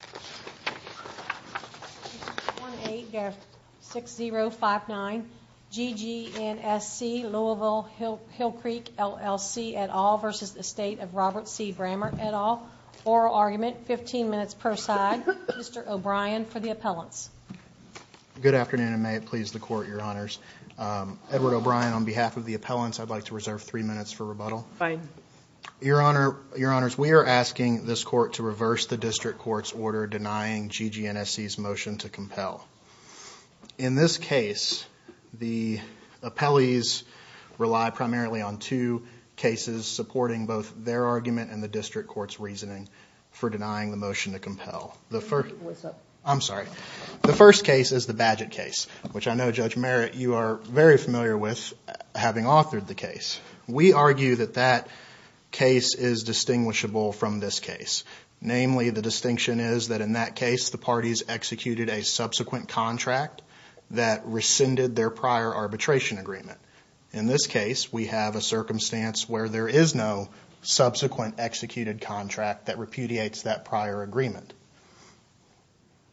et al. Oral argument, 15 minutes per side. Mr. O'Brien for the appellants. Good afternoon and may it please the court, your honors. Edward O'Brien, on behalf of the appellants, I'd like to reserve three minutes for rebuttal. Fine. Your honor, your honors, we are asking this court to reverse the district court's order denying GGNSC's motion to compel. In this case, the appellees rely primarily on two cases supporting both their argument and the district court's reasoning for denying the motion to compel. What's up? I'm sorry. The first case is the Badgett case, which I know, Judge Merritt, you are very familiar with, having authored the case. We argue that that case is distinguishable from this case. Namely, the distinction is that in that case, the parties executed a subsequent contract that rescinded their prior arbitration agreement. In this case, we have a circumstance where there is no subsequent executed contract that repudiates that prior agreement.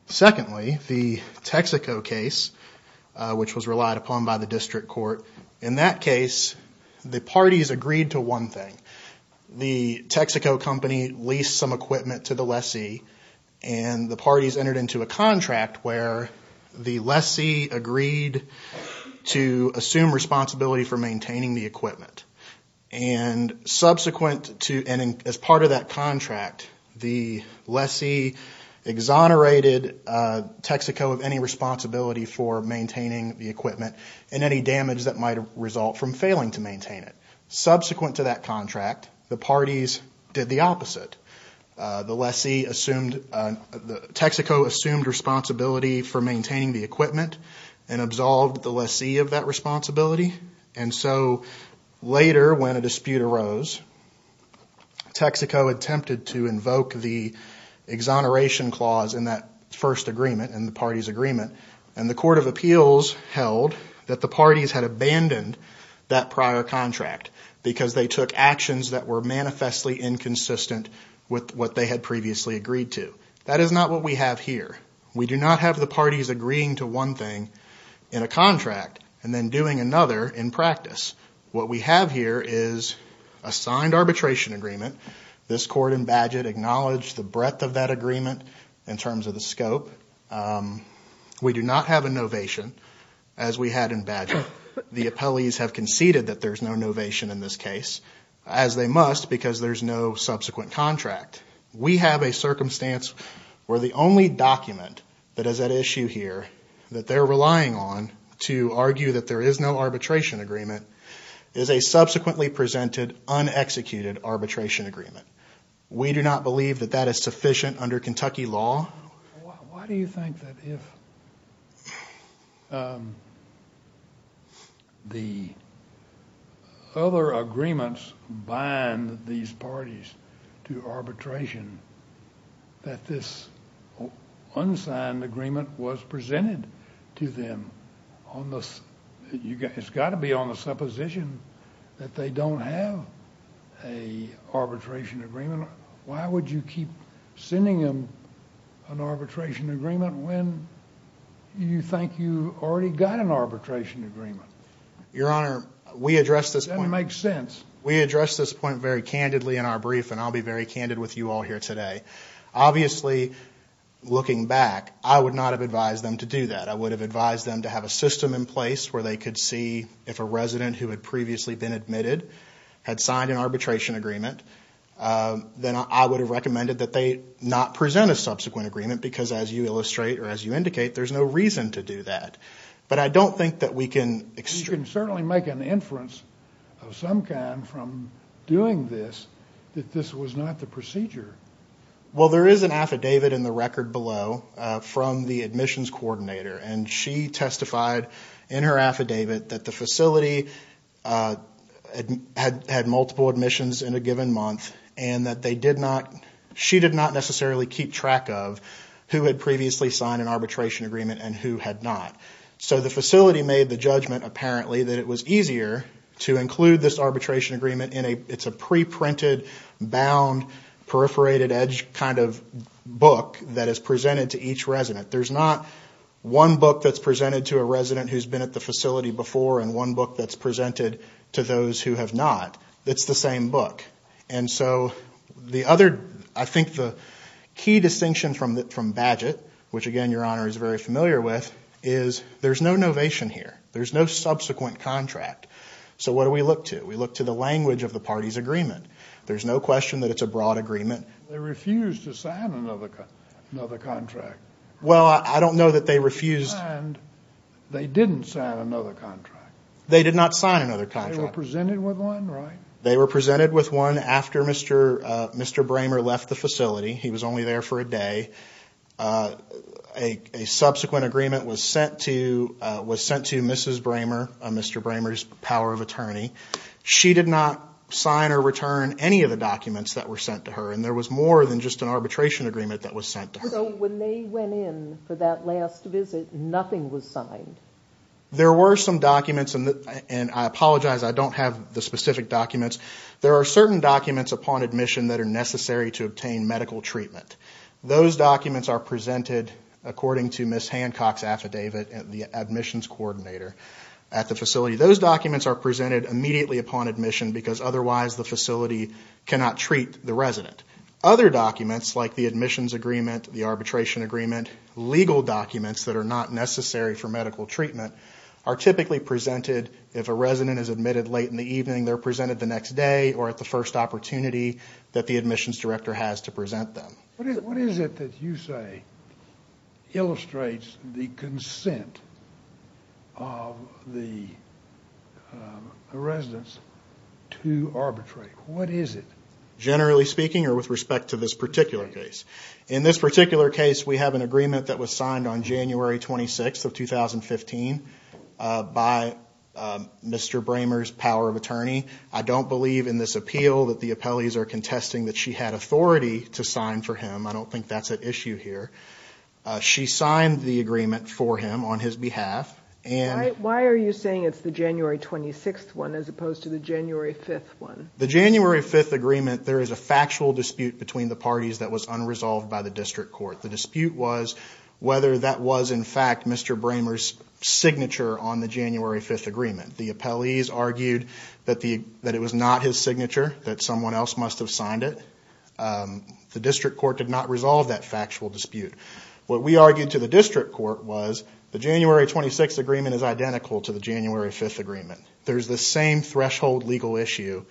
Secondly, the Texaco case, which was relied upon by the district court. In that case, the parties agreed to one thing. The Texaco company leased some equipment to the lessee and the parties entered into a contract where the lessee agreed to assume responsibility for maintaining the equipment. Subsequent to and as part of that contract, the lessee exonerated Texaco of any responsibility for maintaining the equipment and any damage that might result from failing to maintain it. Subsequent to that contract, the parties did the opposite. The lessee assumed, Texaco assumed responsibility for maintaining the equipment and absolved the lessee of that responsibility. And so later, when a dispute arose, Texaco attempted to invoke the exoneration clause in that first agreement, in the party's agreement, and the court of appeals held that the parties had abandoned that prior contract because they took actions that were manifestly inconsistent with what they had previously agreed to. That is not what we have here. We do not have the parties agreeing to one thing in a contract and then doing another in practice. What we have here is a signed arbitration agreement. This court in Badgett acknowledged the breadth of that agreement in terms of the scope. We do not have a novation, as we had in Badgett. The appellees have conceded that there's no novation in this case, as they must because there's no subsequent contract. We have a circumstance where the only document that is at issue here that they're relying on to argue that there is no arbitration agreement is a subsequently presented, unexecuted arbitration agreement. We do not believe that that is sufficient under Kentucky law. Why do you think that if the other agreements bind these parties to arbitration that this unsigned agreement was presented to them? It's got to be on the supposition that they don't have an arbitration agreement. Why would you keep sending them an arbitration agreement when you think you've already got an arbitration agreement? Your Honor, we address this point very candidly in our brief and I'll be very candid with you all here today. Obviously, looking back, I would not have advised them to do that. I would have advised them to have a system in place where they could see if a resident who had previously been admitted had signed an arbitration agreement, then I would have recommended that they not present a subsequent agreement because, as you illustrate or as you indicate, there's no reason to do that. But I don't think that we can... You can certainly make an inference of some kind from doing this that this was not the procedure. Well, there is an affidavit in the record below from the admissions coordinator and she testified in her affidavit that the facility had multiple admissions in a given month and that they did not... She did not necessarily keep track of who had previously signed an arbitration agreement and who had not. So the facility made the judgment apparently that it was easier to include this arbitration agreement in a... It's a pre-printed bound perforated edge kind of book that is presented to each resident. There's not one book that's presented to a resident who's been at the facility before and one book that's presented to those who have not. It's the same book. And so the other... I think the key distinction from Bagehot, which again, Your Honor, is very familiar with, is there's no novation here. There's no subsequent contract. So what do we look to? We look to the language of the party's agreement. There's no question that it's a broad agreement. They refused to sign another contract. Well, I don't know that they refused... They didn't sign another contract. They did not sign another contract. They were presented with one, right? They were presented with one after Mr. Bramer left the facility. He was only there for a day. A subsequent agreement was sent to Mrs. Bramer, Mr. Bramer's power of attorney. She did not sign or return any of the documents that were sent to her and there was more than just an arbitration agreement that was sent to her. So when they went in for that last visit, nothing was signed? There were some documents and I apologize, I don't have the specific documents. There are certain documents upon admission that are necessary to obtain medical treatment. Those documents are presented, according to Ms. Hancock's affidavit, the admissions coordinator at the facility. Those documents are presented immediately upon admission because otherwise the facility cannot treat the resident. Other documents like the admissions agreement, the arbitration agreement, legal documents that are not necessary for medical treatment are typically presented if a resident is admitted late in the evening. They're presented the next day or at the first opportunity that the admissions director has to present them. What is it that you say illustrates the consent of the residents to arbitrate? What is it? Generally speaking or with respect to this particular case? In this particular case we have an agreement that was signed on January 26th of 2015 by Mr. Bramer's power of attorney. I don't believe in this appeal that the appellees are contesting that she had authority to sign for him. I don't think that's at issue here. She signed the agreement for him on his behalf. Why are you saying it's the January 26th one as opposed to the January 5th one? The January 5th agreement, there is a factual dispute between the parties that was unresolved by the district court. The dispute was whether that was in fact Mr. Bramer's signature on the January 5th agreement. The appellees argued that it was not his signature, that someone else must have signed it. The district court did not resolve that factual dispute. What we argued to the district court was the January 26th agreement is identical to the January 5th agreement. There's the same threshold legal issue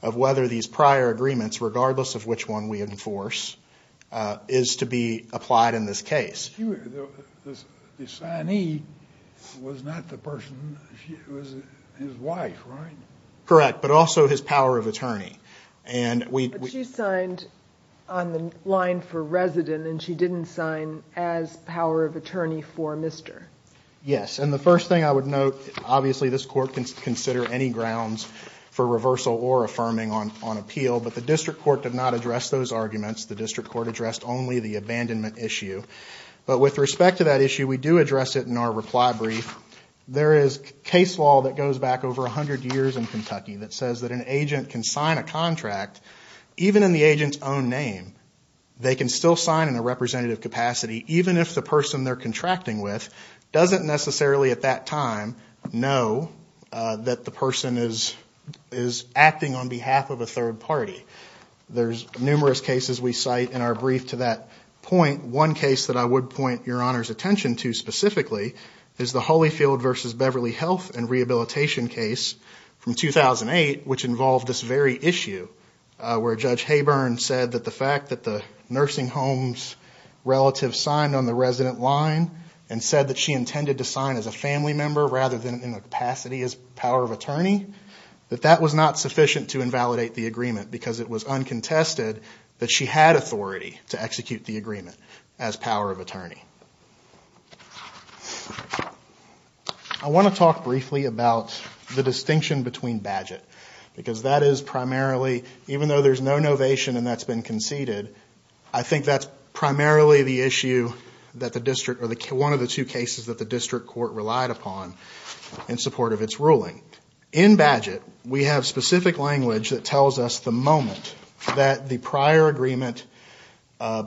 of whether these prior agreements, regardless of which one we enforce, is to be applied in this case. The signee was not the person, it was his wife, right? Correct, but also his power of attorney. But she signed on the line for resident and she didn't sign as power of attorney for Mr. Yes, and the first thing I would note, obviously this court can consider any grounds for reversal or affirming on appeal, but the district court did not address those arguments. The district court addressed only the abandonment issue. But with respect to that issue, we do address it in our reply brief. There is case law that goes back over 100 years in Kentucky that says that an agent can sign a contract, even in the agent's own name, they can still sign in a representative capacity, even if the person they're contracting with doesn't necessarily at that time know that the person is acting on behalf of a third party. There's numerous cases we cite in our brief to that point. One case that I would point Your Honor's attention to specifically is the Holyfield v. Beverly Health and Rehabilitation case from 2008, which involved this very issue where Judge Haburn said that the fact that the nursing home's relative signed on the resident line and said that she intended to sign as a family member rather than in the capacity as power of attorney, that that was not sufficient to invalidate the agreement because it was uncontested that she had authority to execute the agreement as power of attorney. I want to talk briefly about the distinction between Bagehot because that is primarily, even though there's no novation and that's been conceded, I think that's primarily the issue that the district, or one of the two cases that the district court relied upon in support of its ruling. In Bagehot, we have specific language that tells us the moment that the prior agreement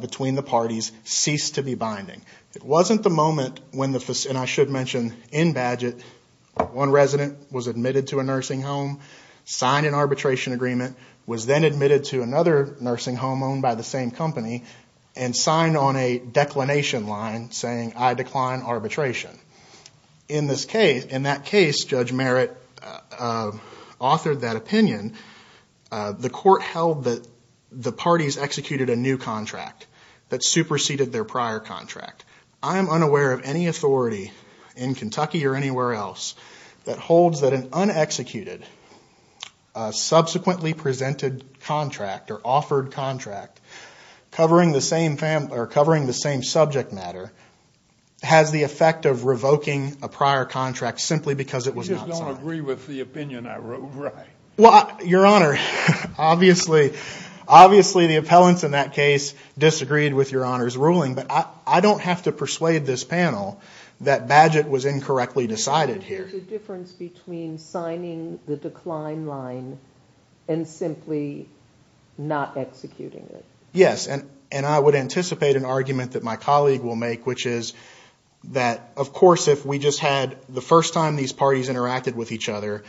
between the parties ceased to be binding. It wasn't the moment when the, and I should mention in Bagehot, one resident was admitted to a nursing home, signed an arbitration agreement, was then admitted to another nursing home owned by the same company, and signed on a declination line saying I decline arbitration. In that case, Judge Merritt authored that opinion. The court held that the parties executed a new contract that superseded their prior contract. I am unaware of any authority in Kentucky or anywhere else that holds that an unexecuted, subsequently presented contract or offered contract covering the same subject matter has the effect of revoking a prior contract simply because it was not signed. You just don't agree with the opinion I wrote, right? Your Honor, obviously the appellants in that case disagreed with Your Honor's ruling, but I don't have to persuade this panel that Bagehot was incorrectly decided here. There's a difference between signing the decline line and simply not executing it. Yes, and I would anticipate an argument that my colleague will make, which is that of course if we just had the first time these parties interacted with each other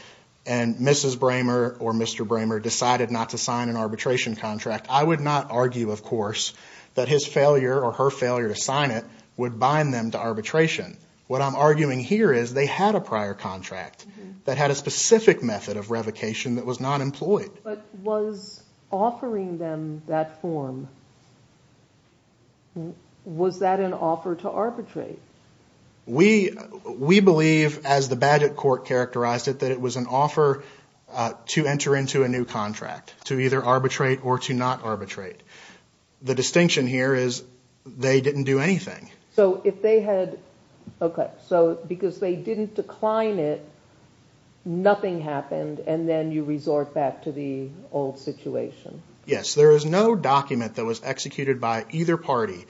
and Mrs. Bramer or Mr. Bramer decided not to sign an arbitration contract, I would not argue, of course, that his failure or her failure to sign it would bind them to arbitration. What I'm arguing here is they had a prior contract that had a specific method of revocation that was not employed. But was offering them that form, was that an offer to arbitrate? We believe, as the Bagehot court characterized it, that it was an offer to enter into a new contract to either arbitrate or to not arbitrate. The distinction here is they didn't do anything. So if they had, okay, so because they didn't decline it, nothing happened and then you resort back to the old situation? Yes, there is no document that was executed by either party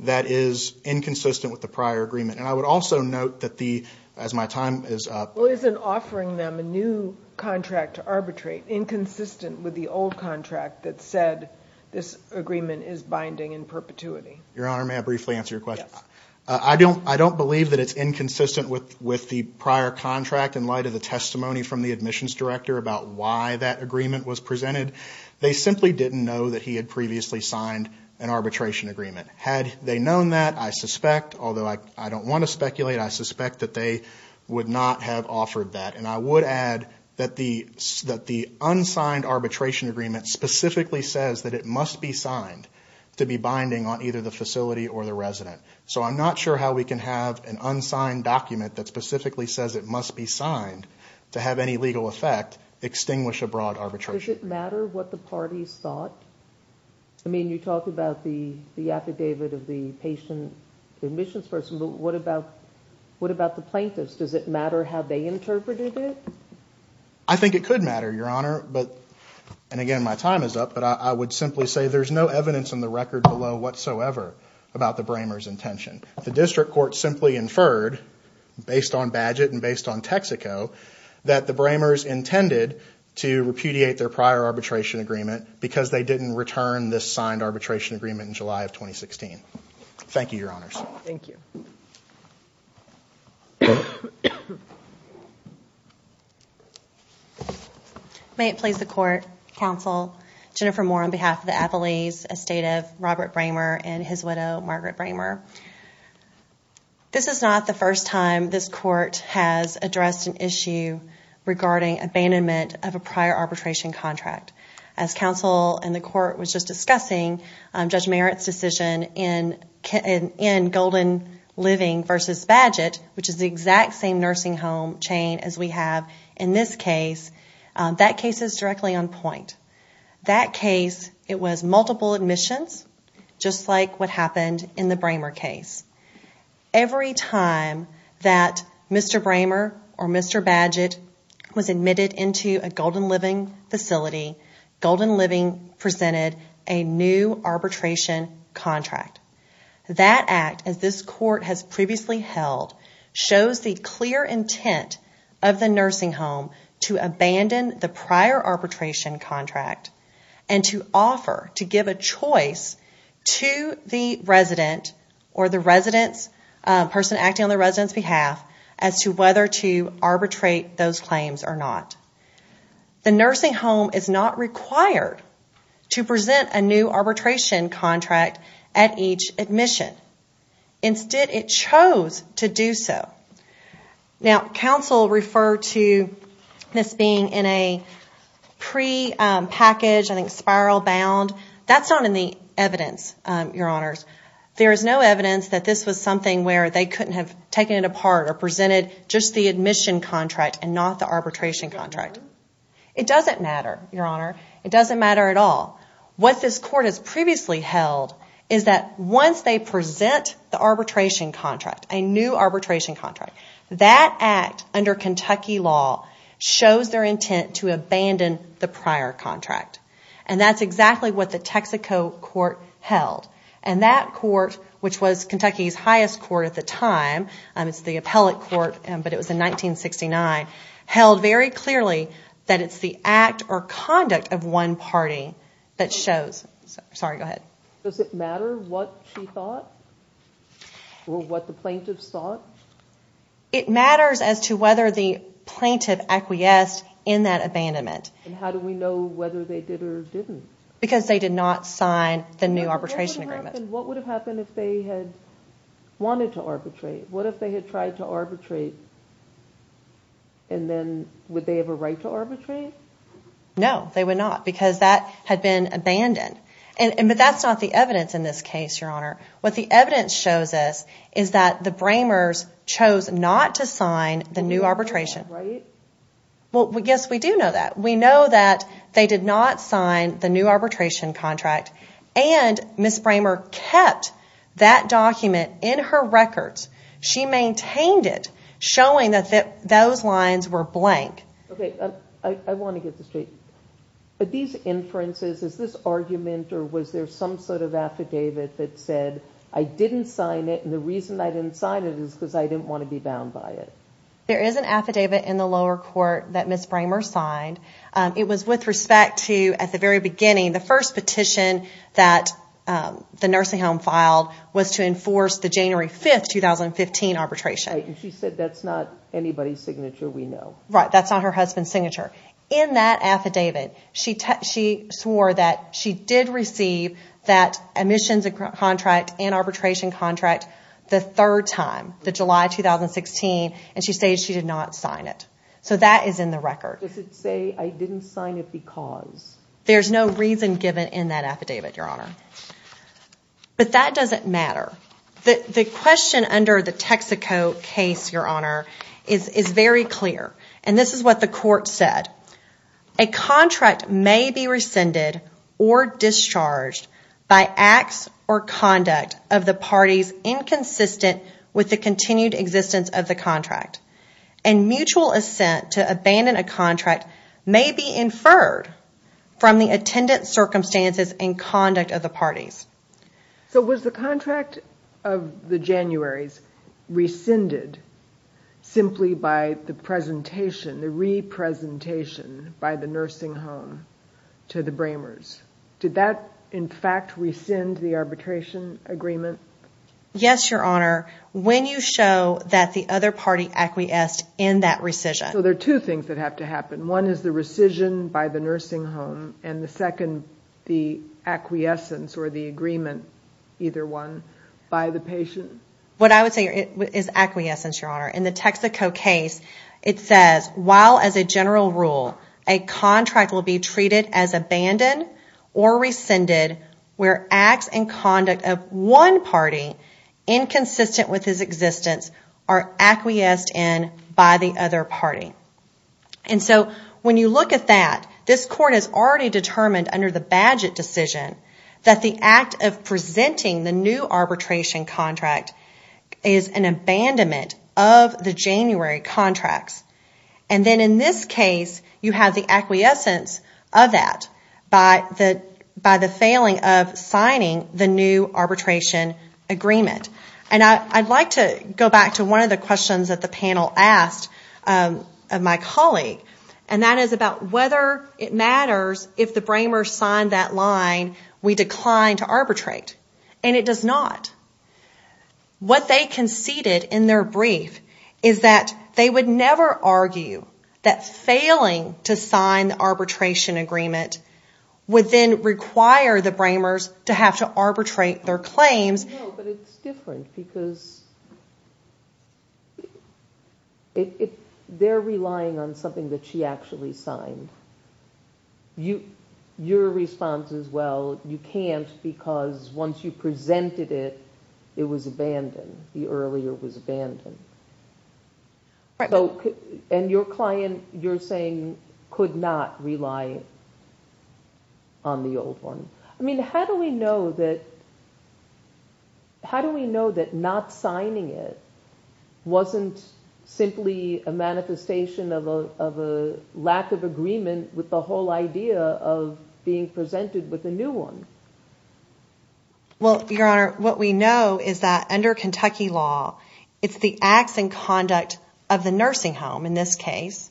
that is inconsistent with the prior agreement. And I would also note that the, as my time is up. Well, isn't offering them a new contract to arbitrate inconsistent with the old contract that said this agreement is binding in perpetuity? Your Honor, may I briefly answer your question? Yes. I don't believe that it's inconsistent with the prior contract in light of the testimony from the admissions director about why that agreement was presented. They simply didn't know that he had previously signed an arbitration agreement. Had they known that, I suspect, although I don't want to speculate, I suspect that they would not have offered that. And I would add that the unsigned arbitration agreement specifically says that it must be signed to be binding on either the facility or the resident. So I'm not sure how we can have an unsigned document that specifically says it must be signed to have any legal effect extinguish a broad arbitration. Does it matter what the parties thought? I mean, you talk about the affidavit of the patient, the admissions person, but what about the plaintiffs? Does it matter how they interpreted it? I think it could matter, Your Honor. And again, my time is up, but I would simply say there's no evidence in the record below whatsoever about the Bramers' intention. The district court simply inferred, based on Badgett and based on Texaco, that the Bramers intended to repudiate their prior arbitration agreement because they didn't return this signed arbitration agreement in July of 2016. Thank you, Your Honors. May it please the Court, Counsel, Jennifer Moore on behalf of the Appellees, Estate of Robert Bramer and his widow, Margaret Bramer. This is not the first time this Court has addressed an issue regarding abandonment of a prior arbitration contract. As Counsel and the Court was just discussing, Judge Merritt's decision in Golden Living v. Badgett, which is the exact same nursing home chain as we have in this case, that case is directly on point. That case, it was multiple admissions, just like what happened in the Bramer case. Every time that Mr. Bramer or Mr. Badgett was admitted into a Golden Living facility, Golden Living presented a new arbitration contract. That act, as this Court has previously held, shows the clear intent of the nursing home to abandon the prior arbitration contract and to offer, to give a choice to the resident or the person acting on the resident's behalf as to whether to arbitrate those claims or not. The nursing home is not required to present a new arbitration contract at each admission. Instead, it chose to do so. Now, Counsel referred to this being in a pre-packaged, I think spiral bound. That's not in the evidence, Your Honors. There is no evidence that this was something where they couldn't have taken it apart or presented just the admission contract and not the arbitration contract. It doesn't matter, Your Honor. It doesn't matter at all. What this Court has previously held is that once they present the arbitration contract, a new arbitration contract, that act under Kentucky law shows their intent to abandon the prior contract. That's exactly what the Texaco Court held. That court, which was Kentucky's highest court at the time, it's the appellate court, but it was in 1969, held very clearly that it's the act or conduct of one party that shows... Sorry, go ahead. Does it matter what she thought or what the plaintiffs thought? It matters as to whether the plaintiff acquiesced in that abandonment. How do we know whether they did or didn't? Because they did not sign the new arbitration agreement. What would have happened if they had wanted to arbitrate? What if they had tried to arbitrate and then would they have a right to arbitrate? No, they would not because that had been abandoned. But that's not the evidence in this case, Your Honor. What the evidence shows us is that the Bramers chose not to sign the new arbitration. They did not, right? And Ms. Bramer kept that document in her records. She maintained it, showing that those lines were blank. Okay, I want to get this straight. But these inferences, is this argument or was there some sort of affidavit that said, I didn't sign it and the reason I didn't sign it is because I didn't want to be bound by it? There is an affidavit in the lower court that Ms. Bramer signed. It was with respect to, at the very beginning, the first petition that the nursing home filed was to enforce the January 5th, 2015 arbitration. Right, and she said that's not anybody's signature, we know. Right, that's not her husband's signature. In that affidavit, she swore that she did receive that admissions contract and arbitration contract the third time, the July 2016, and she stated she did not sign it. So that is in the record. Does it say I didn't sign it because? There's no reason given in that affidavit, Your Honor. But that doesn't matter. The question under the Texaco case, Your Honor, is very clear. And this is what the court said. A contract may be rescinded or discharged by acts or conduct of the parties inconsistent with the continued existence of the contract. And mutual assent to abandon a contract may be inferred from the attendant circumstances and conduct of the parties. So was the contract of the Januaries rescinded simply by the presentation, the re-presentation by the nursing home to the Bramers? Did that, in fact, rescind the arbitration agreement? Yes, Your Honor. When you show that the other party acquiesced in that rescission. So there are two things that have to happen. One is the rescission by the nursing home and the second, the acquiescence or the agreement, either one, by the patient? What I would say is acquiescence, Your Honor. In the Texaco case, it says while as a general rule a contract will be treated as abandoned or rescinded where acts and conduct of one party inconsistent with his existence are acquiesced in by the other party. And so when you look at that, this court has already determined under the Bagehot decision that the act of presenting the new arbitration contract is an abandonment of the January contracts. And then in this case, you have the acquiescence of that by the failing of signing the new arbitration agreement. And I'd like to go back to one of the questions that the panel asked of my colleague, and that is about whether it matters if the Bramers sign that line, we decline to arbitrate. And it does not. What they conceded in their brief is that they would never argue that failing to sign the arbitration agreement would then require the Bramers to have to arbitrate their claims. No, but it's different because they're relying on something that she actually signed. Your response is, well, you can't because once you presented it, it was abandoned. The earlier was abandoned. And your client, you're saying, could not rely on the old one. I mean, how do we know that not signing it wasn't simply a manifestation of a lack of agreement with the whole idea of being presented with a new one? Well, Your Honor, what we know is that under Kentucky law, it's the acts and conduct of the nursing home in this case.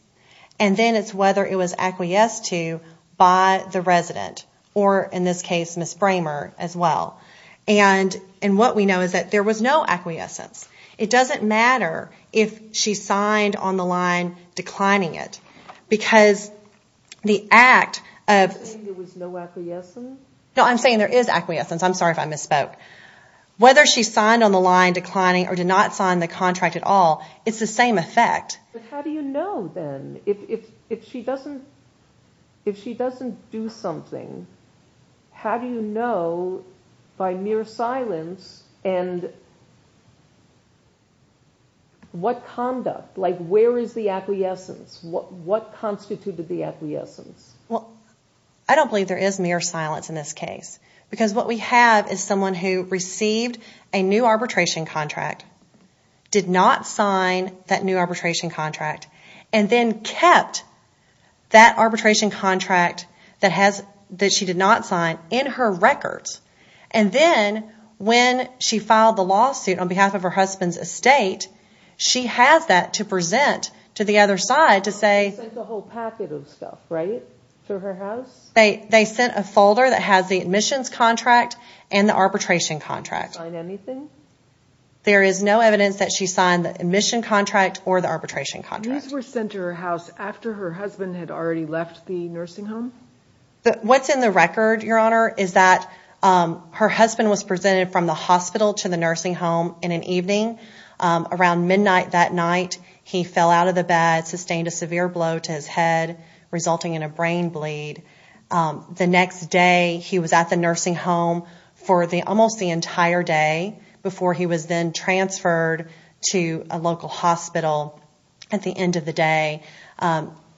And then it's whether it was acquiesced to by the resident or in this case, Ms. Bramer as well. And what we know is that there was no acquiescence. It doesn't matter if she signed on the line declining it because the act of... You're saying there was no acquiescence? No, I'm saying there is acquiescence. I'm sorry if I misspoke. Whether she signed on the line declining or did not sign the contract at all, it's the same effect. But how do you know then? If she doesn't do something, how do you know by mere silence and what conduct, like where is the acquiescence? What constituted the acquiescence? Well, I don't believe there is mere silence in this case because what we have is someone who received a new arbitration contract, did not sign that new arbitration contract, and then kept that arbitration contract that she did not sign in her records. And then when she filed the lawsuit on behalf of her husband's estate, she has that to present to the other side to say... They sent a whole packet of stuff, right, to her house? They sent a folder that has the admissions contract and the arbitration contract. Did she sign anything? There is no evidence that she signed the admission contract or the arbitration contract. These were sent to her house after her husband had already left the nursing home? What's in the record, Your Honor, is that her husband was presented from the hospital to the nursing home in an evening. Around midnight that night, he fell out of the bed, sustained a severe blow to his head, resulting in a brain bleed. The next day, he was at the nursing home for almost the entire day before he was then transferred to a local hospital at the end of the day.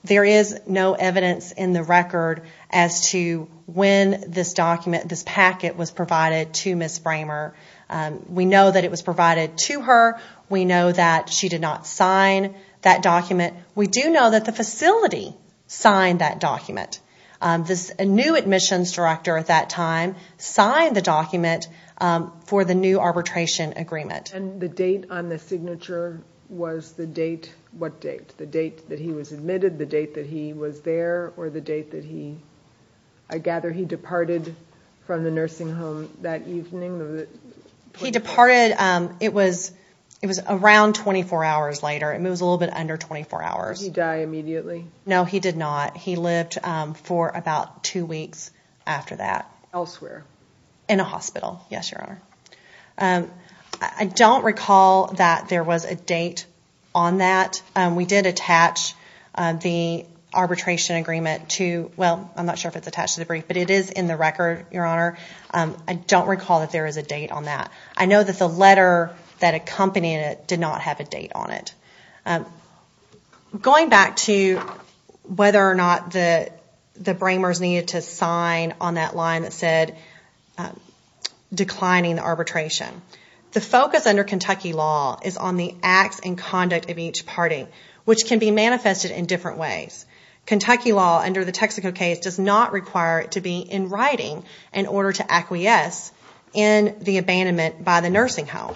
There is no evidence in the record as to when this document, this packet was provided to Ms. Framer. We know that it was provided to her. We know that she did not sign that document. We do know that the facility signed that document. The new admissions director at that time signed the document for the new arbitration agreement. And the date on the signature was the date, what date? The date that he was admitted, the date that he was there, or the date that he, I gather he departed from the nursing home that evening? He departed, it was around 24 hours later. It was a little bit under 24 hours. Did he die immediately? No, he did not. He lived for about two weeks after that. Elsewhere? In a hospital, yes, Your Honor. I don't recall that there was a date on that. We did attach the arbitration agreement to, well, I'm not sure if it's attached to the brief, but it is in the record, Your Honor. I don't recall that there is a date on that. I know that the letter that accompanied it did not have a date on it. Going back to whether or not the Bramers needed to sign on that line that said declining the arbitration. The focus under Kentucky law is on the acts and conduct of each party, which can be manifested in different ways. Kentucky law under the Texaco case does not require it to be in writing in order to acquiesce in the abandonment by the nursing home.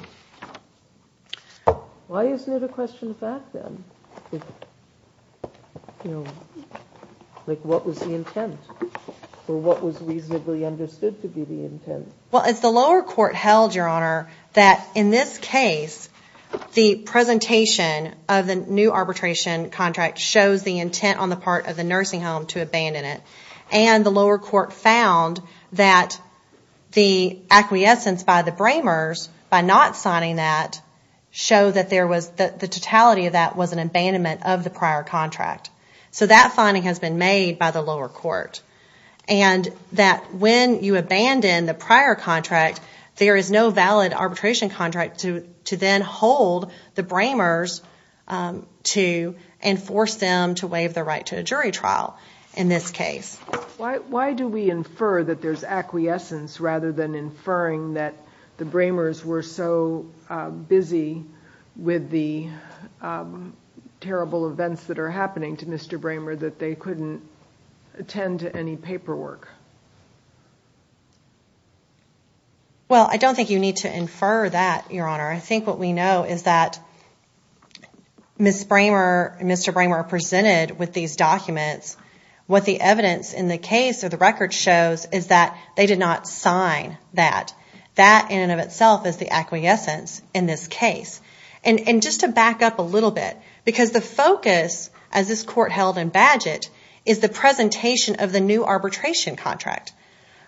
Why isn't it a question of fact, then? Like, what was the intent? Or what was reasonably understood to be the intent? Well, as the lower court held, Your Honor, that in this case the presentation of the new arbitration contract shows the intent on the part of the nursing home to abandon it. And the lower court found that the acquiescence by the Bramers by not signing that showed that the totality of that was an abandonment of the prior contract. So that finding has been made by the lower court. And that when you abandon the prior contract, there is no valid arbitration contract to then hold the Bramers to enforce them to waive the right to a jury trial in this case. Why do we infer that there's acquiescence rather than inferring that the Bramers were so busy with the terrible events that are happening to Mr. Bramer that they couldn't attend to any paperwork? Well, I don't think you need to infer that, Your Honor. I think what we know is that Mr. Bramer presented with these documents what the evidence in the case or the record shows is that they did not sign that. That in and of itself is the acquiescence in this case. And just to back up a little bit, because the focus as this court held in Badgett is the presentation of the new arbitration contract.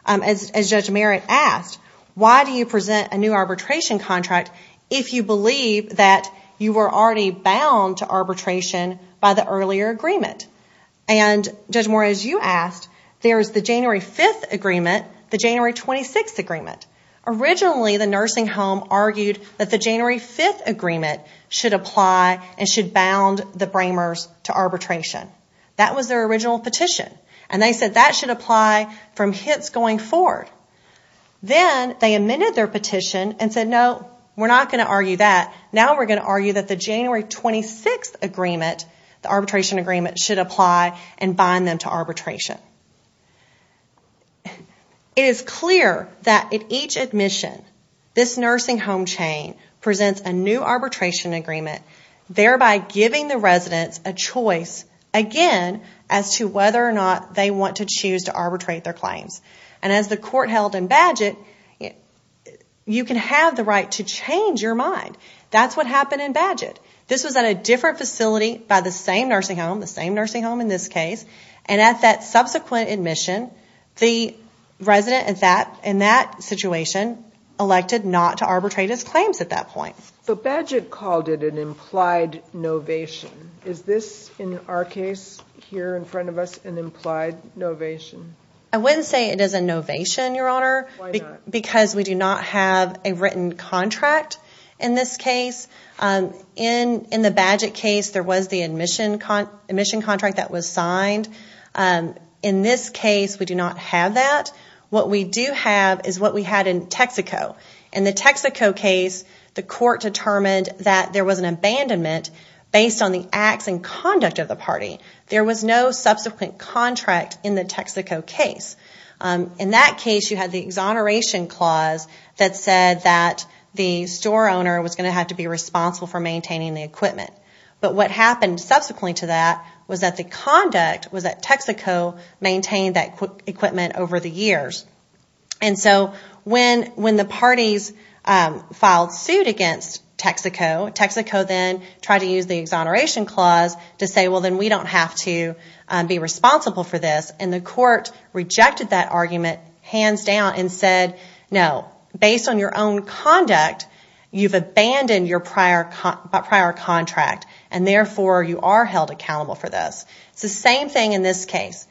As Judge Merritt asked, why do you present a new arbitration contract if you believe that you were already bound to arbitration by the earlier agreement? And Judge Morris, you asked, there's the January 5th agreement, the January 26th agreement. Originally, the nursing home argued that the January 5th agreement should apply and should bound the Bramers to arbitration. That was their original petition. And they said that should apply from hence going forward. Then they amended their petition and said, no, we're not going to argue that. Now we're going to argue that the January 26th agreement, the arbitration agreement, should apply and bind them to arbitration. It is clear that in each admission, this nursing home chain presents a new arbitration agreement thereby giving the residents a choice again as to whether or not they want to choose to arbitrate their claims. And as the court held in Badgett, you can have the right to change your mind. That's what happened in Badgett. This was at a different facility by the same nursing home, the same nursing home in this case. And at that subsequent admission, the resident in that situation elected not to arbitrate his claims at that point. So Badgett called it an implied novation. Is this, in our case, here in front of us, an implied novation? I wouldn't say it is a novation, Your Honor, because we do not have a written contract in this case. In the Badgett case, there was the admission contract that was signed. In this case, we do not have that. What we do have is what we had in Texaco. In the Texaco case, the court determined that there was an abandonment based on the acts and conduct of the party. There was no subsequent contract in the Texaco case. In that case, you had the exoneration clause that said that the store owner was going to have to be responsible for maintaining the equipment. But what happened subsequently to that was that the conduct was that Texaco maintained that equipment over the years. And so when the parties filed suit against Texaco, Texaco then tried to use the exoneration clause to say, well, then we don't have to be responsible for this. And the court rejected that argument hands down and said, no, based on your own conduct, you've abandoned your prior contract and therefore you are held accountable for this. It's the same thing in this case.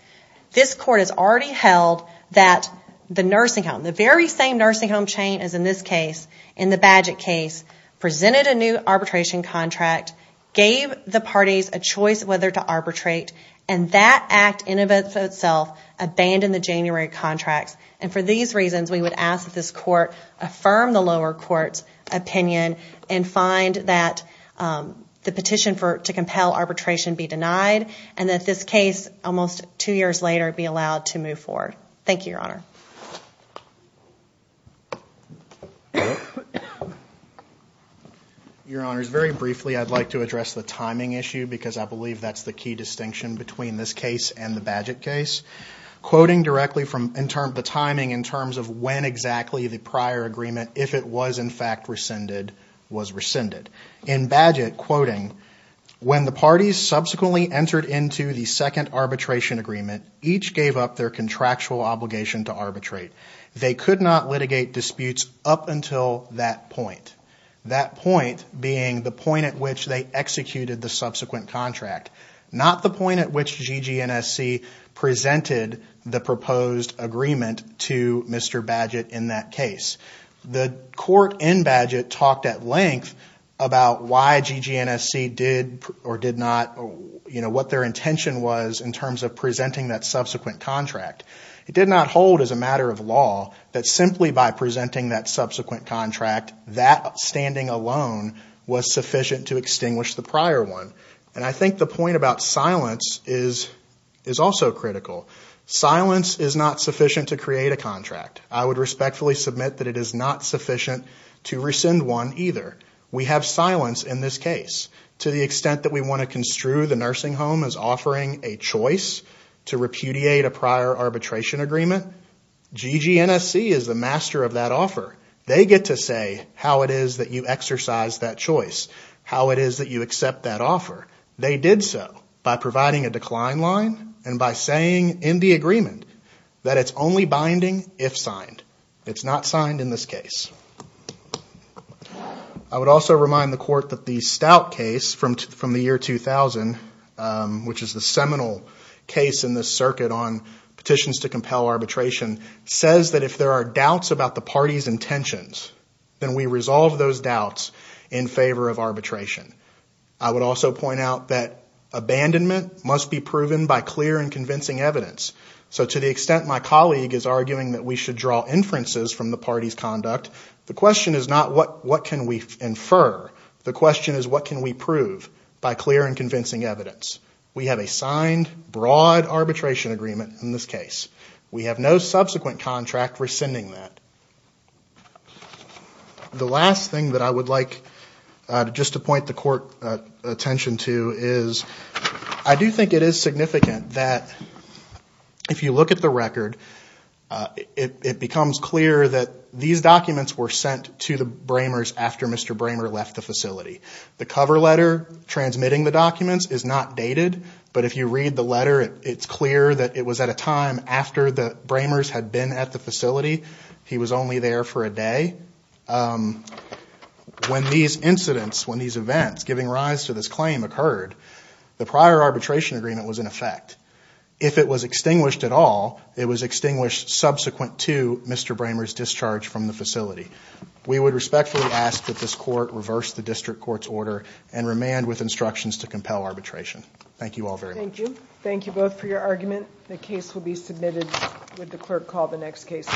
This court has already held that the nursing home, the very same nursing home chain as in this case, in the Badgett case, presented a new arbitration contract, gave the parties a choice whether to arbitrate, and that act in and of itself abandoned the January contracts. And for these reasons, we would ask that this court affirm the lower court's opinion and find that the petition to compel arbitration be denied and that this case, almost two years later, be allowed to move forward. Thank you, Your Honor. Your Honor, very briefly, I'd like to address the timing issue because I believe that's the key distinction between this case and the Badgett case. Quoting directly from the timing in terms of when exactly the prior agreement, if it was in fact rescinded, was rescinded. In Badgett, quoting, when the parties subsequently entered into the second arbitration agreement, each gave up their contractual obligation to arbitrate. They could not litigate disputes up until that point. That point being the point at which they executed the subsequent contract. Not the point at which GG&SC presented the proposed agreement to Mr. Badgett in that case. The court in Badgett talked at length about why GG&SC did or did not, what their intention was in terms of presenting that subsequent contract. It did not hold as a matter of law that simply by presenting that subsequent contract, that standing alone was sufficient to extinguish the prior one. And I think the point about silence is also critical. Silence is not sufficient to create a contract. I would respectfully submit that it is not sufficient to rescind one either. We have silence in this case. To the extent that we want to construe the nursing home as offering a choice to repudiate a prior arbitration agreement, GG&SC is the master of that offer. They get to say how it is that you exercise that choice. How it is that you accept that offer. They did so by providing a decline line and by saying in the agreement that it's only binding if signed. It's not signed in this case. I would also remind the court that the Stout case from the year 2000, which is the seminal case in this circuit on petitions to compel arbitration, says that if there are doubts about the party's intentions, then we resolve those doubts in favor of arbitration. I would also point out that abandonment must be proven by clear and convincing evidence. So to the extent my colleague is arguing that we should draw inferences from the party's conduct, the question is not what can we infer, the question is what can we prove by clear and convincing evidence. We have a signed, broad arbitration agreement in this case. We have no subsequent contract rescinding that. The last thing that I would like just to point the court attention to is, I do think it is significant that if you look at the record, it becomes clear that these documents were sent to the Bramers after Mr. Bramer left the facility. The cover letter transmitting the documents is not dated, but if you read the letter, it's clear that it was at a time after the Bramers had been at the facility. He was only there for a day. When these incidents, when these events giving rise to this claim occurred, the prior arbitration agreement was in effect. If it was extinguished at all, it was extinguished subsequent to Mr. Bramer's discharge from the facility. We would respectfully ask that this court reverse the district court's order and remand with instructions to compel arbitration. Thank you all very much. Thank you both for your argument. The case will be submitted with the clerk call the next case.